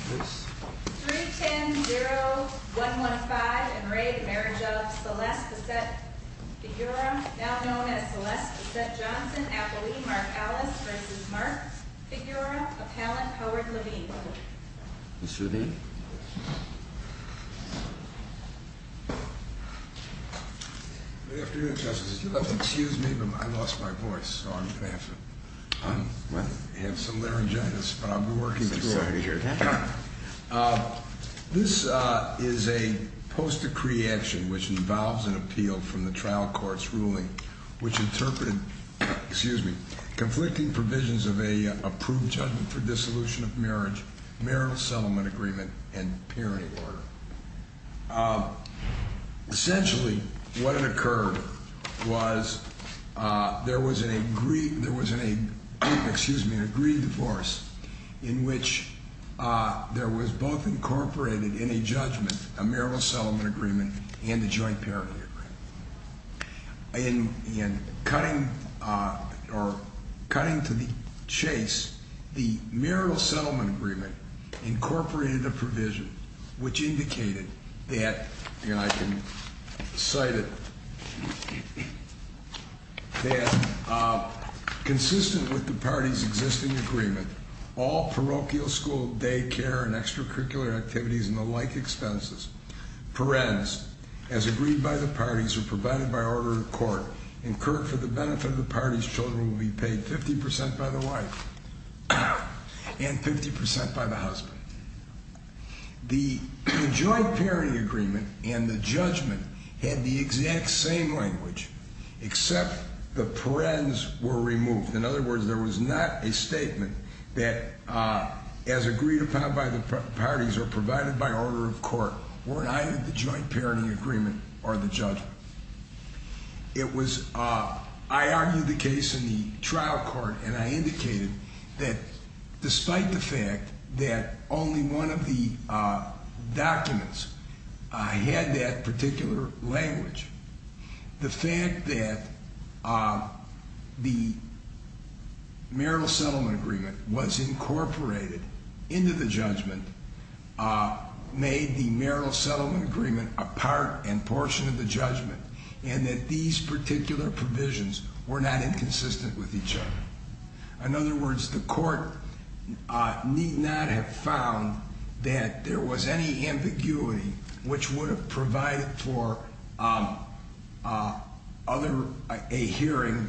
310-0-115 and re the Marriage of Celeste Bessette-Figura, now known as Celeste Bessette-Johnson, Appleby, Mark Alice, versus Mark Figura, Appellant Howard Levine. Mr. Levine. Good afternoon, Justice. If you'll excuse me, I lost my voice, so I'm baffled. I have some laryngitis, but I'll be working through it. This is a post-decree action which involves an appeal from the trial court's ruling, which interpreted conflicting provisions of an approved judgment for dissolution of marriage, marital settlement agreement, and parenting order. Essentially, what had occurred was there was an agreed divorce in which there was both incorporated in a judgment a marital settlement agreement and a joint parenting agreement. In cutting to the chase, the marital settlement agreement incorporated a provision which indicated that, and I can cite it, that, consistent with the parties' existing agreement, all parochial school, daycare, and extracurricular activities and the like expenses, parents, as agreed by the parties or provided by order of court, incurred for the benefit of the parties' children will be paid 50% by the wife and 50% by the husband. The joint parenting agreement and the judgment had the exact same language, except the parens were removed. In other words, there was not a statement that, as agreed upon by the parties or provided by order of court, weren't either the joint parenting agreement or the judgment. I argued the case in the trial court, and I indicated that, despite the fact that only one of the documents had that particular language, the fact that the marital settlement agreement was incorporated into the judgment made the marital settlement agreement a part and portion of the judgment and that these particular provisions were not inconsistent with each other. In other words, the court need not have found that there was any ambiguity which would have provided for a hearing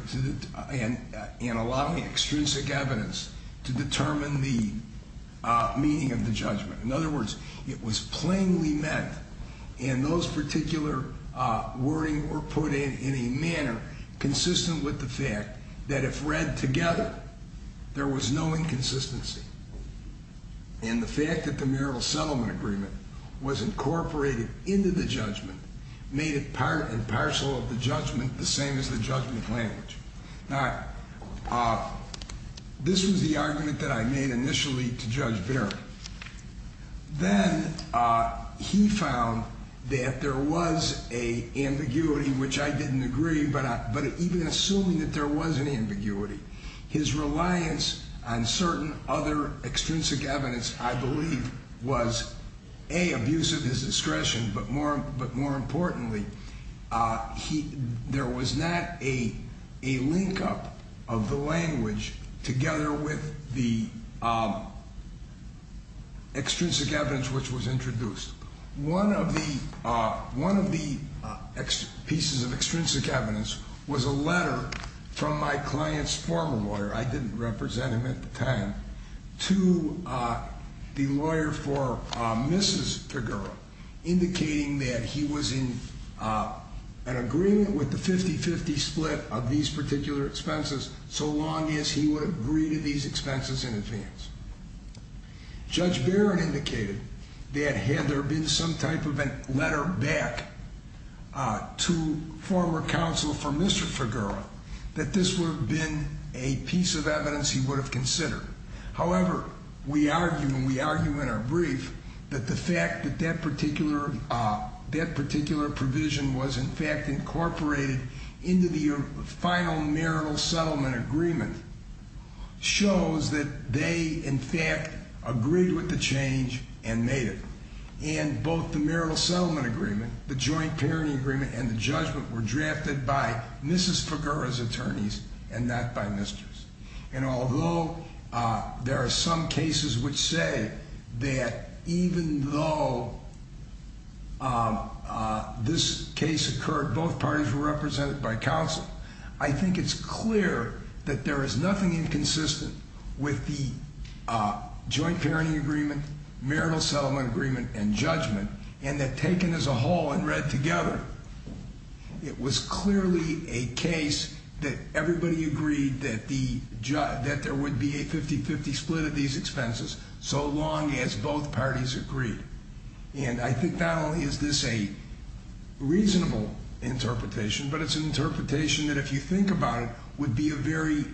and allowing extrinsic evidence to determine the meaning of the judgment. In other words, it was plainly meant, and those particular wording were put in in a manner consistent with the fact that if read together, there was no inconsistency. And the fact that the marital settlement agreement was incorporated into the judgment made it part and parcel of the judgment the same as the judgment language. Now, this was the argument that I made initially to Judge Barrett. Then he found that there was an ambiguity, which I didn't agree, but even assuming that there was an ambiguity, his reliance on certain other extrinsic evidence, I believe, was A, abusive of his discretion, but more importantly, there was not a linkup of the language together with the extrinsic evidence which was introduced. One of the pieces of extrinsic evidence was a letter from my client's former lawyer. I didn't represent him at the time, to the lawyer for Mrs. Figueroa, indicating that he was in an agreement with the 50-50 split of these particular expenses, so long as he would agree to these expenses in advance. Judge Barrett indicated that had there been some type of a letter back to former counsel for Mr. Figueroa, that this would have been a piece of evidence he would have considered. However, we argue, and we argue in our brief, that the fact that that particular provision was, in fact, incorporated into the final marital settlement agreement shows that they, in fact, agreed with the change and made it. And both the marital settlement agreement, the joint parenting agreement, and the judgment were drafted by Mrs. Figueroa's attorneys and not by Mr.'s. And although there are some cases which say that even though this case occurred, both parties were represented by counsel, I think it's clear that there is nothing inconsistent with the joint parenting agreement, marital settlement agreement, and judgment, and that taken as a whole and read together, it was clearly a case that everybody agreed that there would be a 50-50 split of these expenses, so long as both parties agreed. And I think not only is this a reasonable interpretation, but it's an interpretation that, if you think about it, would be a very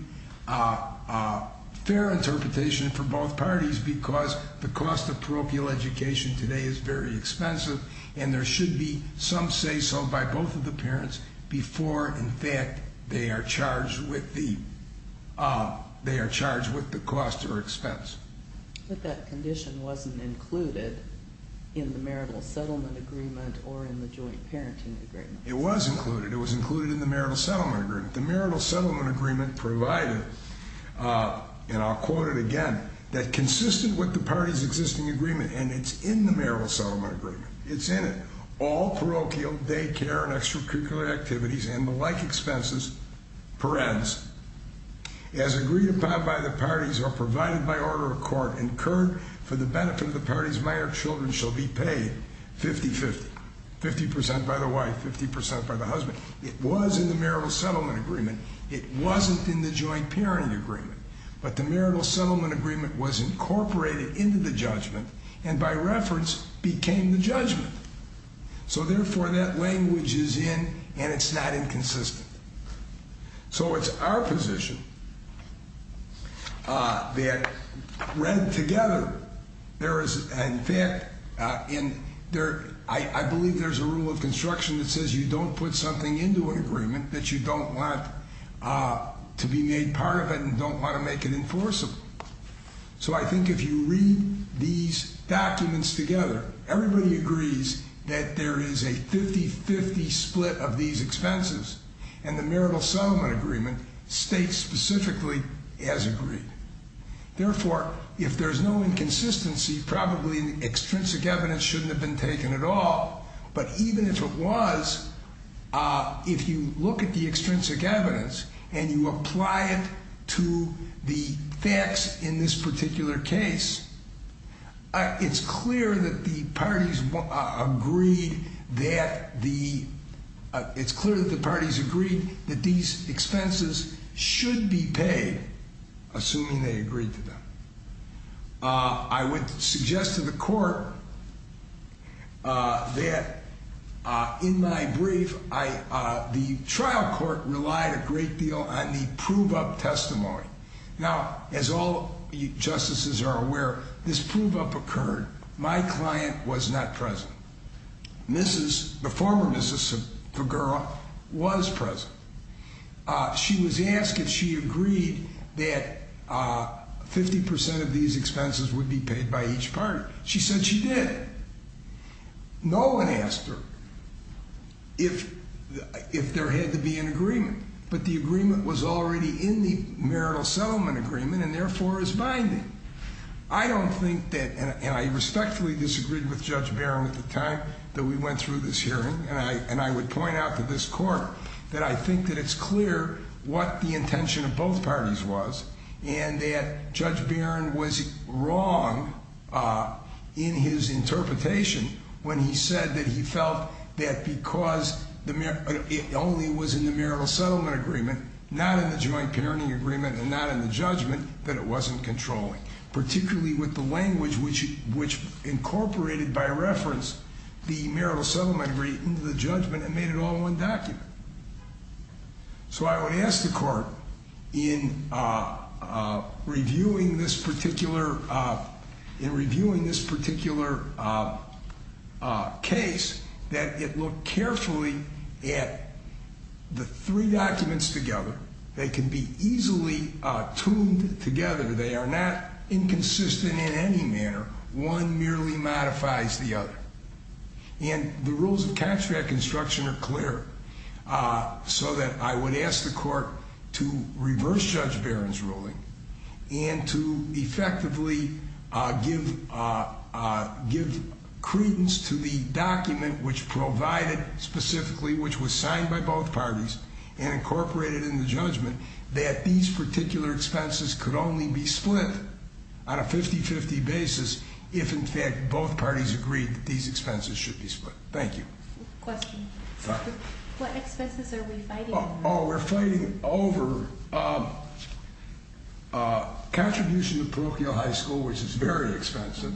fair interpretation for both parties because the cost of parochial education today is very expensive, and there should be some say-so by both of the parents before, in fact, they are charged with the cost or expense. But that condition wasn't included in the marital settlement agreement or in the joint parenting agreement. It was included. It was included in the marital settlement agreement. The marital settlement agreement provided, and I'll quote it again, that consistent with the parties' existing agreement, and it's in the marital settlement agreement. It's in it. All parochial daycare and extracurricular activities and the like expenses perens, as agreed upon by the parties or provided by order of court, incurred for the benefit of the parties, minor children shall be paid 50-50, 50% by the wife, 50% by the husband. It was in the marital settlement agreement. It wasn't in the joint parenting agreement. But the marital settlement agreement was incorporated into the judgment and, by reference, became the judgment. So, therefore, that language is in, and it's not inconsistent. So it's our position that read together, there is, in fact, and I believe there's a rule of construction that says you don't put something into an agreement that you don't want to be made part of it and don't want to make it enforceable. So I think if you read these documents together, everybody agrees that there is a 50-50 split of these expenses, and the marital settlement agreement states specifically as agreed. Therefore, if there's no inconsistency, probably extrinsic evidence shouldn't have been taken at all. But even if it was, if you look at the extrinsic evidence and you apply it to the facts in this particular case, it's clear that the parties agreed that these expenses should be paid, assuming they agreed to them. I would suggest to the court that in my brief, the trial court relied a great deal on the prove-up testimony. Now, as all justices are aware, this prove-up occurred. My client was not present. Mrs., the former Mrs. Figueroa, was present. She was asked if she agreed that 50% of these expenses would be paid by each party. She said she did. No one asked her if there had to be an agreement, but the agreement was already in the marital settlement agreement and therefore is binding. I don't think that, and I respectfully disagreed with Judge Barrow at the time that we went through this hearing, and I would point out to this court that I think that it's clear what the intention of both parties was and that Judge Barrow was wrong in his interpretation when he said that he felt that because it only was in the marital settlement agreement, not in the joint parenting agreement, and not in the judgment, that it wasn't controlling. Particularly with the language which incorporated, by reference, the marital settlement agreement into the judgment and made it all one document. So I would ask the court in reviewing this particular case that it look carefully at the three documents together. They can be easily tuned together. They are not inconsistent in any manner. One merely modifies the other. And the rules of contract construction are clear, so that I would ask the court to reverse Judge Barrow's ruling and to effectively give credence to the document which provided specifically, which was signed by both parties and incorporated in the judgment, that these particular expenses could only be split on a 50-50 basis if, in fact, both parties agreed that these expenses should be split. Thank you. Question. What expenses are we fighting over? Oh, we're fighting over a contribution to parochial high school, which is very expensive,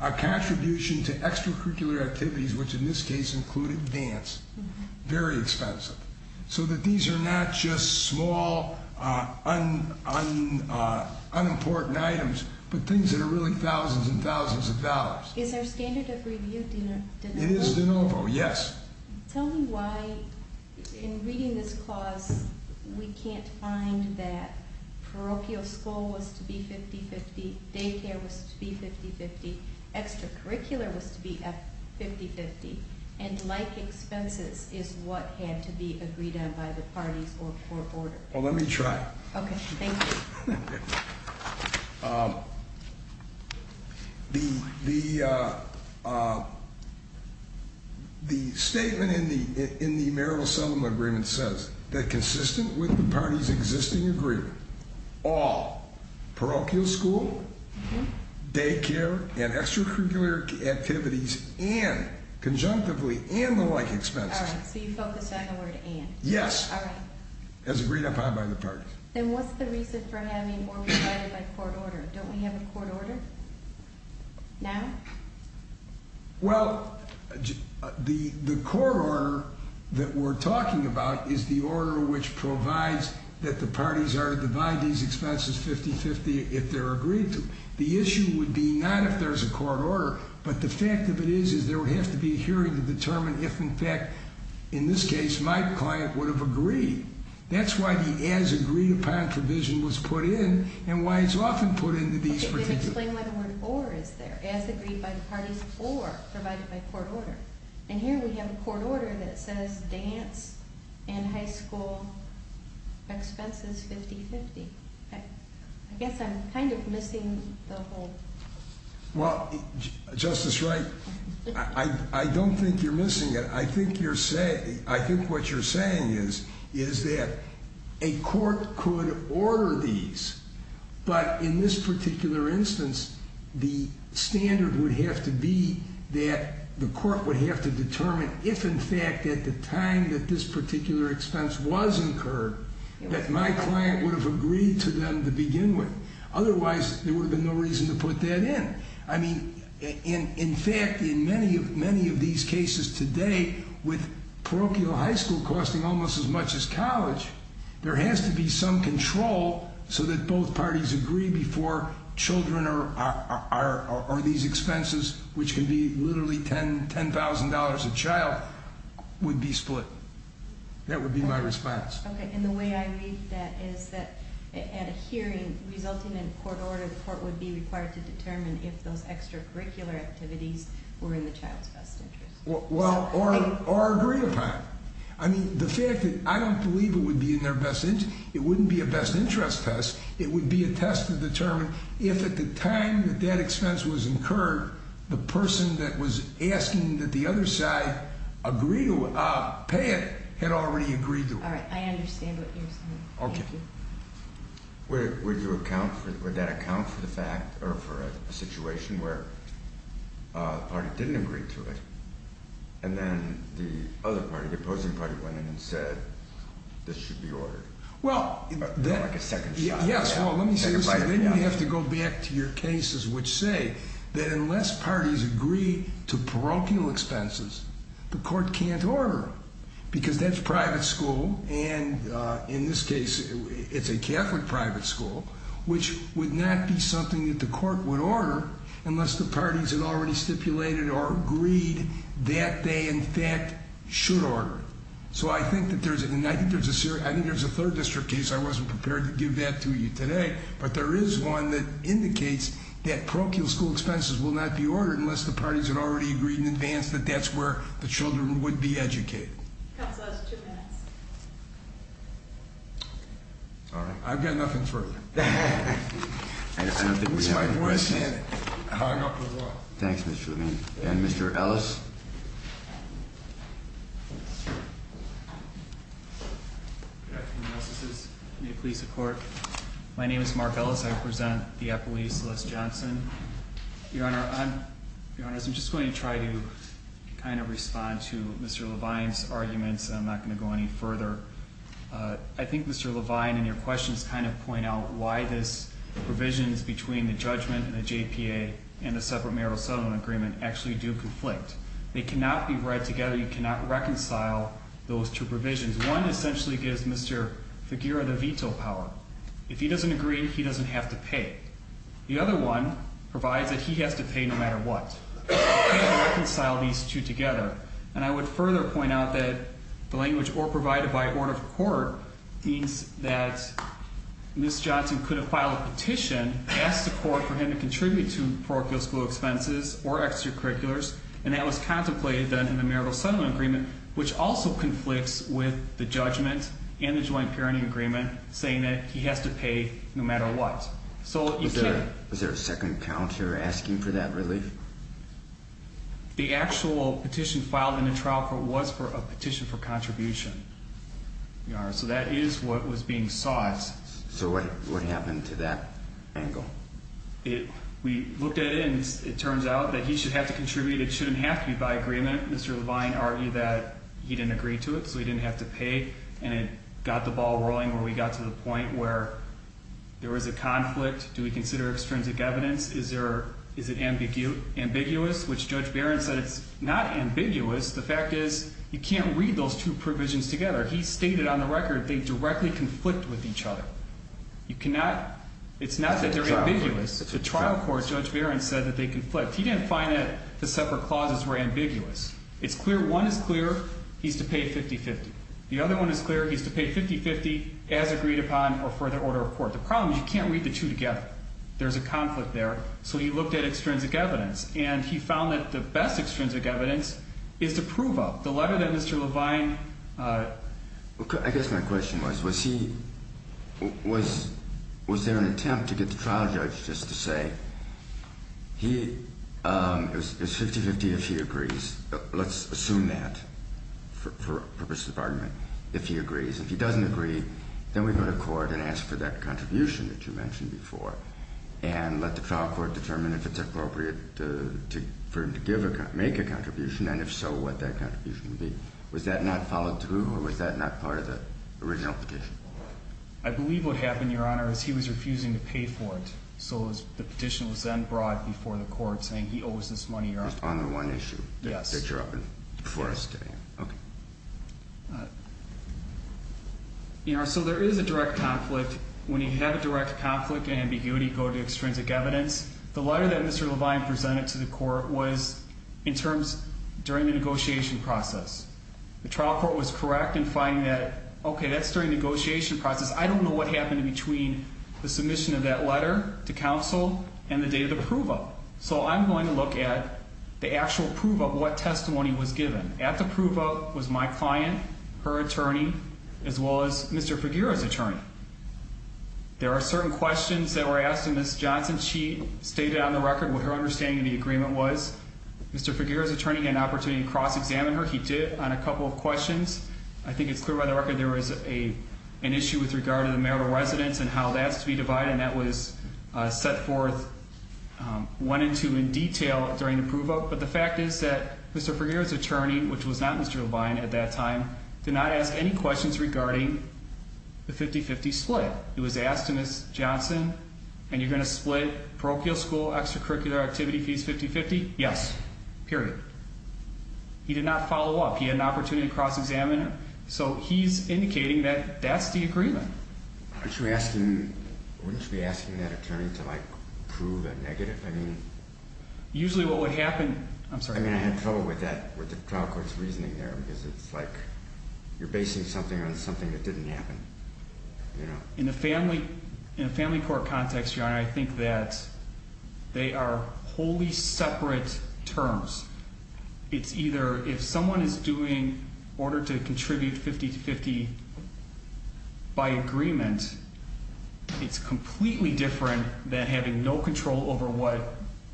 a contribution to extracurricular activities, which in this case included dance. Very expensive. So that these are not just small, unimportant items, but things that are really thousands and thousands of dollars. Is our standard of review de novo? It is de novo, yes. Tell me why, in reading this clause, we can't find that parochial school was to be 50-50, daycare was to be 50-50, extracurricular was to be 50-50, and like expenses is what had to be agreed on by the parties or court order. Well, let me try. Okay, thank you. The statement in the Marable Settlement Agreement says that consistent with the parties' existing agreement, all parochial school, daycare, and extracurricular activities and conjunctively and the like expenses. All right, so you focus on the word and. Yes. All right. As agreed upon by the parties. Then what's the reason for having or provided by court order? Don't we have a court order now? Well, the court order that we're talking about is the order which provides that the parties are to divide these expenses 50-50 if they're agreed to. The issue would be not if there's a court order, but the fact of it is there would have to be a hearing to determine if, in fact, in this case, my client would have agreed. That's why the as agreed upon provision was put in and why it's often put into these. Explain why the word or is there. As agreed by the parties or provided by court order. And here we have a court order that says dance and high school expenses 50-50. I guess I'm kind of missing the whole. Well, Justice Wright, I don't think you're missing it. I think what you're saying is that a court could order these, but in this particular instance, the standard would have to be that the court would have to determine if, in fact, at the time that this particular expense was incurred, that my client would have agreed to them to begin with. Otherwise, there would have been no reason to put that in. I mean, in fact, in many of these cases today, with parochial high school costing almost as much as college, there has to be some control so that both parties agree before children or these expenses, which can be literally $10,000 a child, would be split. That would be my response. Okay, and the way I read that is that at a hearing resulting in a court order, the court would be required to determine if those extracurricular activities were in the child's best interest. Well, or agreed upon. I mean, the fact that I don't believe it would be in their best interest. It wouldn't be a best interest test. It would be a test to determine if, at the time that that expense was incurred, the person that was asking that the other side agree to pay it had already agreed to it. All right, I understand what you're saying. Okay. Would that account for the fact or for a situation where the party didn't agree to it and then the other party, the opposing party, went in and said, this should be ordered? Well, let me say this. Then you have to go back to your cases which say that unless parties agree to parochial expenses, the court can't order because that's private school and, in this case, it's a Catholic private school, which would not be something that the court would order unless the parties had already stipulated or agreed that they, in fact, should order it. So I think there's a third district case. I wasn't prepared to give that to you today, but there is one that indicates that parochial school expenses will not be ordered unless the parties had already agreed in advance that that's where the children would be educated. Counsel, that's two minutes. All right, I've got nothing further. I don't think we have any questions. Thanks, Mr. Levine. And Mr. Ellis? Good afternoon, Justices. May it please the Court. My name is Mark Ellis. I present the appellee, Celeste Johnson. Your Honor, I'm just going to try to kind of respond to Mr. Levine's arguments, and I'm not going to go any further. I think Mr. Levine in your questions kind of point out why these provisions between the judgment and the JPA and the separate marital settlement agreement actually do conflict. They cannot be read together. You cannot reconcile those two provisions. One essentially gives Mr. Figueroa the veto power. If he doesn't agree, he doesn't have to pay. The other one provides that he has to pay no matter what. You can't reconcile these two together. And I would further point out that the language or provided by order of court means that Ms. Johnson couldn't file a petition, ask the court for him to contribute to parochial school expenses or extracurriculars, and that was contemplated then in the marital settlement agreement, which also conflicts with the judgment and the joint parenting agreement saying that he has to pay no matter what. So you can't. Was there a second count here asking for that relief? The actual petition filed in the trial court was for a petition for contribution. So that is what was being sought. So what happened to that angle? We looked at it, and it turns out that he should have to contribute. It shouldn't have to be by agreement. Mr. Levine argued that he didn't agree to it, so he didn't have to pay, and it got the ball rolling where we got to the point where there was a conflict. Do we consider extrinsic evidence? Is it ambiguous, which Judge Barron said it's not ambiguous. The fact is you can't read those two provisions together. He stated on the record they directly conflict with each other. It's not that they're ambiguous. The trial court, Judge Barron said that they conflict. He didn't find that the separate clauses were ambiguous. One is clear. He's to pay 50-50. The other one is clear. He's to pay 50-50 as agreed upon or further order of court. The problem is you can't read the two together. There's a conflict there, so he looked at extrinsic evidence, and he found that the best extrinsic evidence is to prove up. The letter that Mr. Levine – I guess my question was, was he – was there an attempt to get the trial judge just to say he – it was 50-50 if he agrees. Let's assume that for purposes of argument if he agrees. If he doesn't agree, then we go to court and ask for that contribution that you mentioned before and let the trial court determine if it's appropriate for him to make a contribution, and if so, what that contribution would be. Was that not followed through, or was that not part of the original petition? I believe what happened, Your Honor, is he was refusing to pay for it. So the petition was then brought before the court saying he owes this money, Your Honor. Just on the one issue that you're offering before us today. Okay. Your Honor, so there is a direct conflict. When you have a direct conflict and ambiguity, you go to extrinsic evidence. The letter that Mr. Levine presented to the court was in terms – during the negotiation process. The trial court was correct in finding that, okay, that's during the negotiation process. I don't know what happened between the submission of that letter to counsel and the day of the prove-up. So I'm going to look at the actual prove-up, what testimony was given. At the prove-up was my client, her attorney, as well as Mr. Figueroa's attorney. There are certain questions that were asked of Ms. Johnson. She stated on the record what her understanding of the agreement was. Mr. Figueroa's attorney had an opportunity to cross-examine her. He did on a couple of questions. I think it's clear by the record there was an issue with regard to the marital residence and how that's to be divided, and that was set forth one and two in detail during the prove-up. But the fact is that Mr. Figueroa's attorney, which was not Mr. Levine at that time, did not ask any questions regarding the 50-50 split. It was asked to Ms. Johnson, and you're going to split parochial school extracurricular activity fees 50-50? Yes, period. He did not follow up. He had an opportunity to cross-examine her. So he's indicating that that's the agreement. Aren't you asking – wouldn't you be asking that attorney to, like, prove a negative? Usually what would happen – I'm sorry. I mean, I had trouble with that, with the trial court's reasoning there, because it's like you're basing something on something that didn't happen. In a family court context, Your Honor, I think that they are wholly separate terms. It's either if someone is doing order to contribute 50-50 by agreement, it's completely different than having no control over what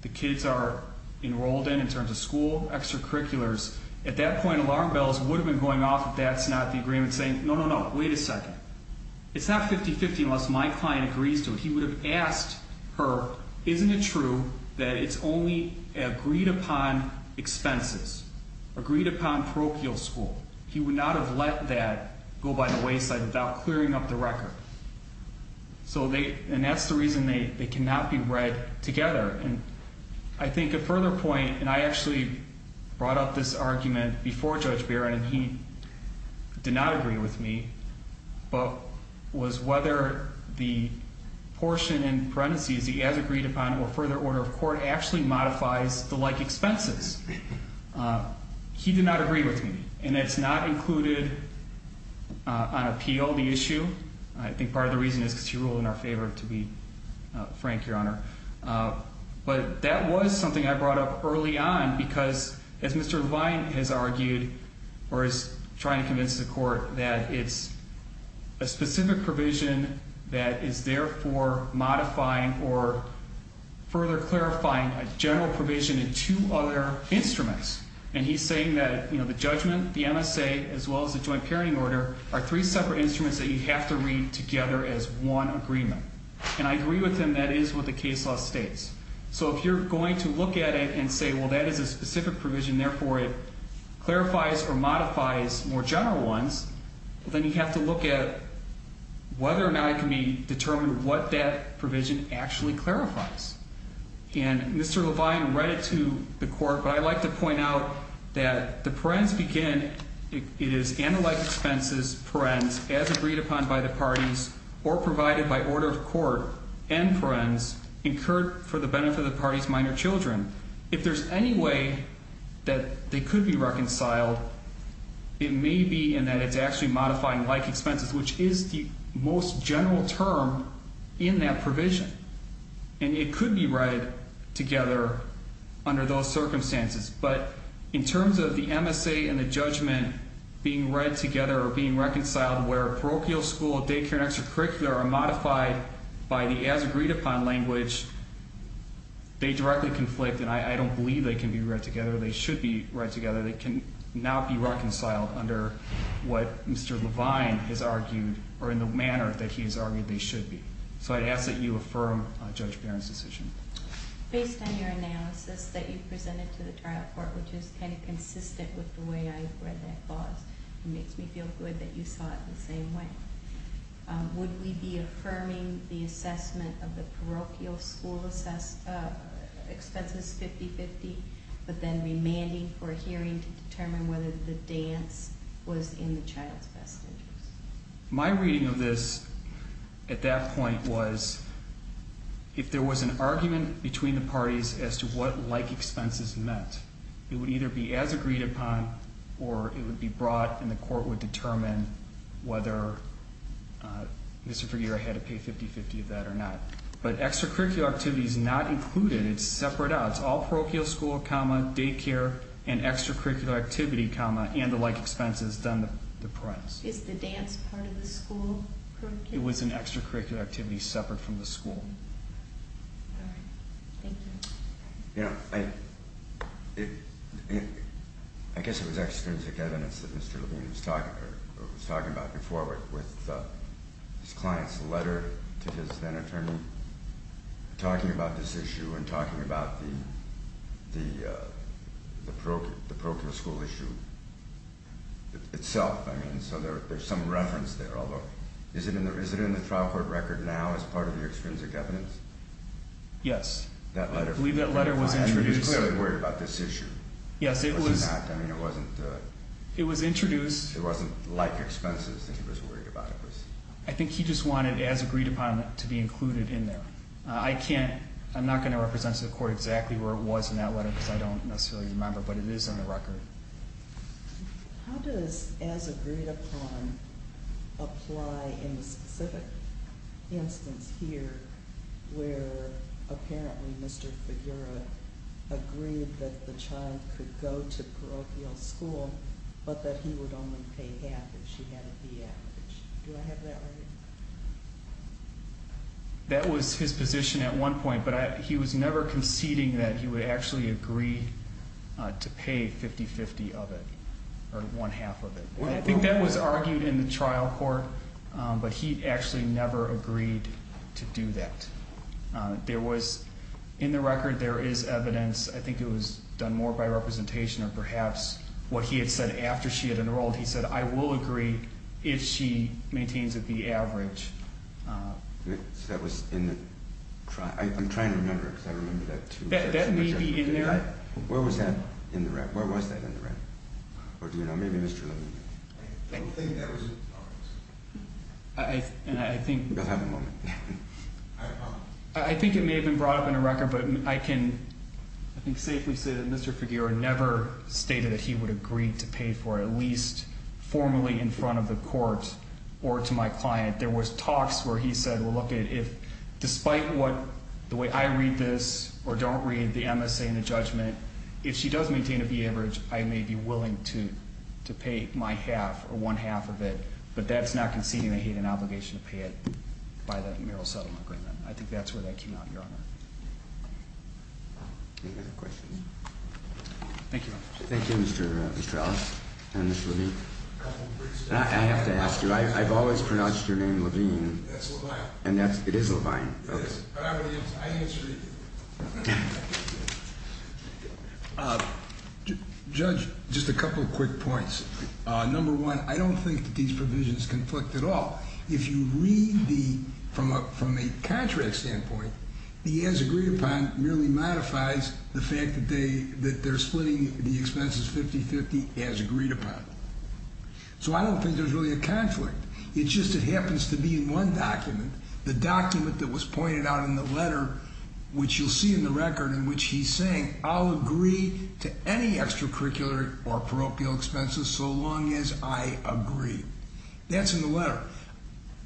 the kids are enrolled in in terms of school extracurriculars. At that point, alarm bells would have been going off if that's not the agreement, saying, no, no, no, wait a second. It's not 50-50 unless my client agrees to it. He would have asked her, isn't it true that it's only agreed upon expenses, agreed upon parochial school? He would not have let that go by the wayside without clearing up the record. And that's the reason they cannot be read together. I think a further point – and I actually brought up this argument before Judge Barron, and he did not agree with me – was whether the portion in parentheses, the as-agreed-upon or further order of court, actually modifies the like expenses. He did not agree with me. And it's not included on appeal, the issue. I think part of the reason is because she ruled in our favor, to be frank, Your Honor. But that was something I brought up early on because, as Mr. Levine has argued, or is trying to convince the court, that it's a specific provision that is there for modifying or further clarifying a general provision in two other instruments. And he's saying that the judgment, the MSA, as well as the joint parenting order, are three separate instruments that you have to read together as one agreement. And I agree with him. That is what the case law states. So if you're going to look at it and say, well, that is a specific provision, therefore it clarifies or modifies more general ones, then you have to look at whether or not it can be determined what that provision actually clarifies. And Mr. Levine read it to the court. But I'd like to point out that the parens begin, it is, and the like expenses, parens, as agreed upon by the parties, or provided by order of court, and parens, incurred for the benefit of the party's minor children. If there's any way that they could be reconciled, it may be in that it's actually modifying like expenses, which is the most general term in that provision. And it could be read together under those circumstances. But in terms of the MSA and the judgment being read together or being reconciled where parochial school, daycare, and extracurricular are modified by the as agreed upon language, they directly conflict. And I don't believe they can be read together. They should be read together. They can now be reconciled under what Mr. Levine has argued or in the manner that he has argued they should be. So I'd ask that you affirm Judge Barron's decision. Based on your analysis that you presented to the trial court, which is kind of consistent with the way I read that clause, it makes me feel good that you saw it the same way. Would we be affirming the assessment of the parochial school expenses 50-50 but then remanding for a hearing to determine whether the dance was in the child's best interest? My reading of this at that point was if there was an argument between the parties as to what like expenses meant, it would either be as agreed upon or it would be brought and the court would determine whether Mr. Figueroa had to pay 50-50 of that or not. But extracurricular activity is not included. It's separate out. It's all parochial school, daycare, and extracurricular activity, and the like expenses done to parents. Is the dance part of the school? It was an extracurricular activity separate from the school. All right. Thank you. I guess it was extrinsic evidence that Mr. Levine was talking about before with his client's letter to his then-attorney talking about this issue and talking about the parochial school issue itself. So there's some reference there, although is it in the trial court record now as part of the extrinsic evidence? Yes. I believe that letter was introduced. He was clearly worried about this issue. It wasn't like expenses that he was worried about. I think he just wanted as agreed upon to be included in there. I'm not going to represent to the court exactly where it was in that letter because I don't necessarily remember, but it is in the record. How does as agreed upon apply in the specific instance here where apparently Mr. Figueroa agreed that the child could go to parochial school but that he would only pay half if she had a B average? Do I have that right? That was his position at one point, but he was never conceding that he would actually agree to pay 50-50 of it or one half of it. I think that was argued in the trial court, but he actually never agreed to do that. In the record there is evidence. I think it was done more by representation or perhaps what he had said after she had enrolled. He said, I will agree if she maintains a B average. So that was in the trial. I'm trying to remember because I remember that too. That may be in there. Where was that in the record? Where was that in the record? Or do you know? Maybe Mr. Levine knew. I don't think that was in the records. I think it may have been brought up in the record, but I can safely say that Mr. Figueroa never stated that he would agree to pay for it at least formally in front of the court or to my client. There were talks where he said, despite the way I read this or don't read the MSA and the judgment, if she does maintain a B average, I may be willing to pay my half or one half of it, but that's not conceding that he had an obligation to pay it by the marital settlement agreement. I think that's where that came out, Your Honor. Any other questions? Thank you, Your Honor. Thank you, Mr. Strauss and Ms. Levine. I have to ask you, I've always pronounced your name Levine. That's Levine. It is Levine. It is. I think it's agreed. Judge, just a couple of quick points. Number one, I don't think that these provisions conflict at all. If you read from a contract standpoint, the as agreed upon merely modifies the fact that they're splitting the expenses 50-50 as agreed upon. So I don't think there's really a conflict. It's just it happens to be in one document. The document that was pointed out in the letter, which you'll see in the record in which he's saying, I'll agree to any extracurricular or parochial expenses so long as I agree. That's in the letter.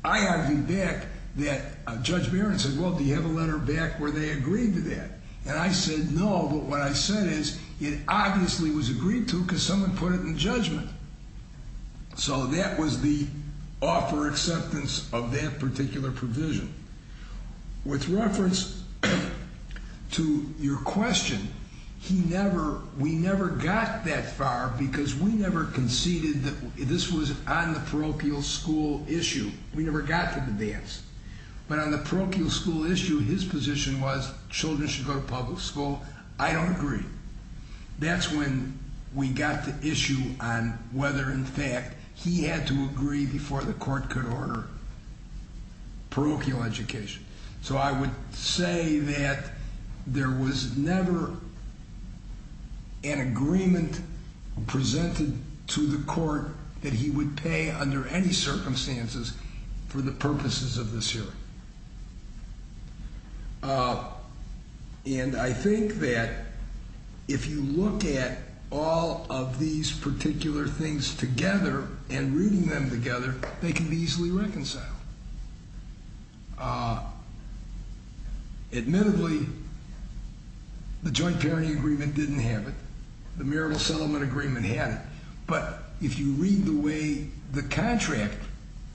I argued back that Judge Barron said, well, do you have a letter back where they agreed to that? And I said no, but what I said is it obviously was agreed to because someone put it in judgment. So that was the offer acceptance of that particular provision. With reference to your question, we never got that far because we never conceded that this was on the parochial school issue. We never got to the dance, but on the parochial school issue, his position was children should go to public school. I don't agree. That's when we got the issue on whether, in fact, he had to agree before the court could order parochial education. So I would say that there was never an agreement presented to the court that he would pay under any circumstances for the purposes of this hearing. And I think that if you look at all of these particular things together and reading them together, they can be easily reconciled. Admittedly, the joint parenting agreement didn't have it. The marital settlement agreement had it. But if you read the way the contract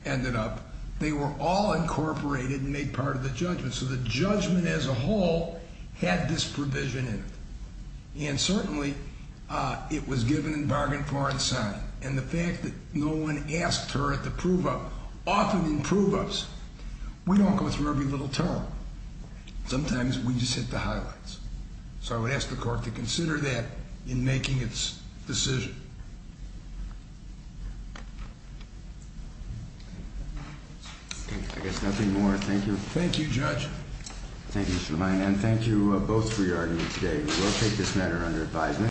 ended up, they were all incorporated and made part of the judgment. So the judgment as a whole had this provision in it. And certainly it was given in bargain, foreign sign. And the fact that no one asked her at the prove-up, often in prove-ups, we don't go through every little term. Sometimes we just hit the highlights. So I would ask the court to consider that in making its decision. Thank you. I guess nothing more. Thank you. Thank you, Judge. Thank you, Mr. Lein. And thank you both for your argument today. We will take this matter under advisement.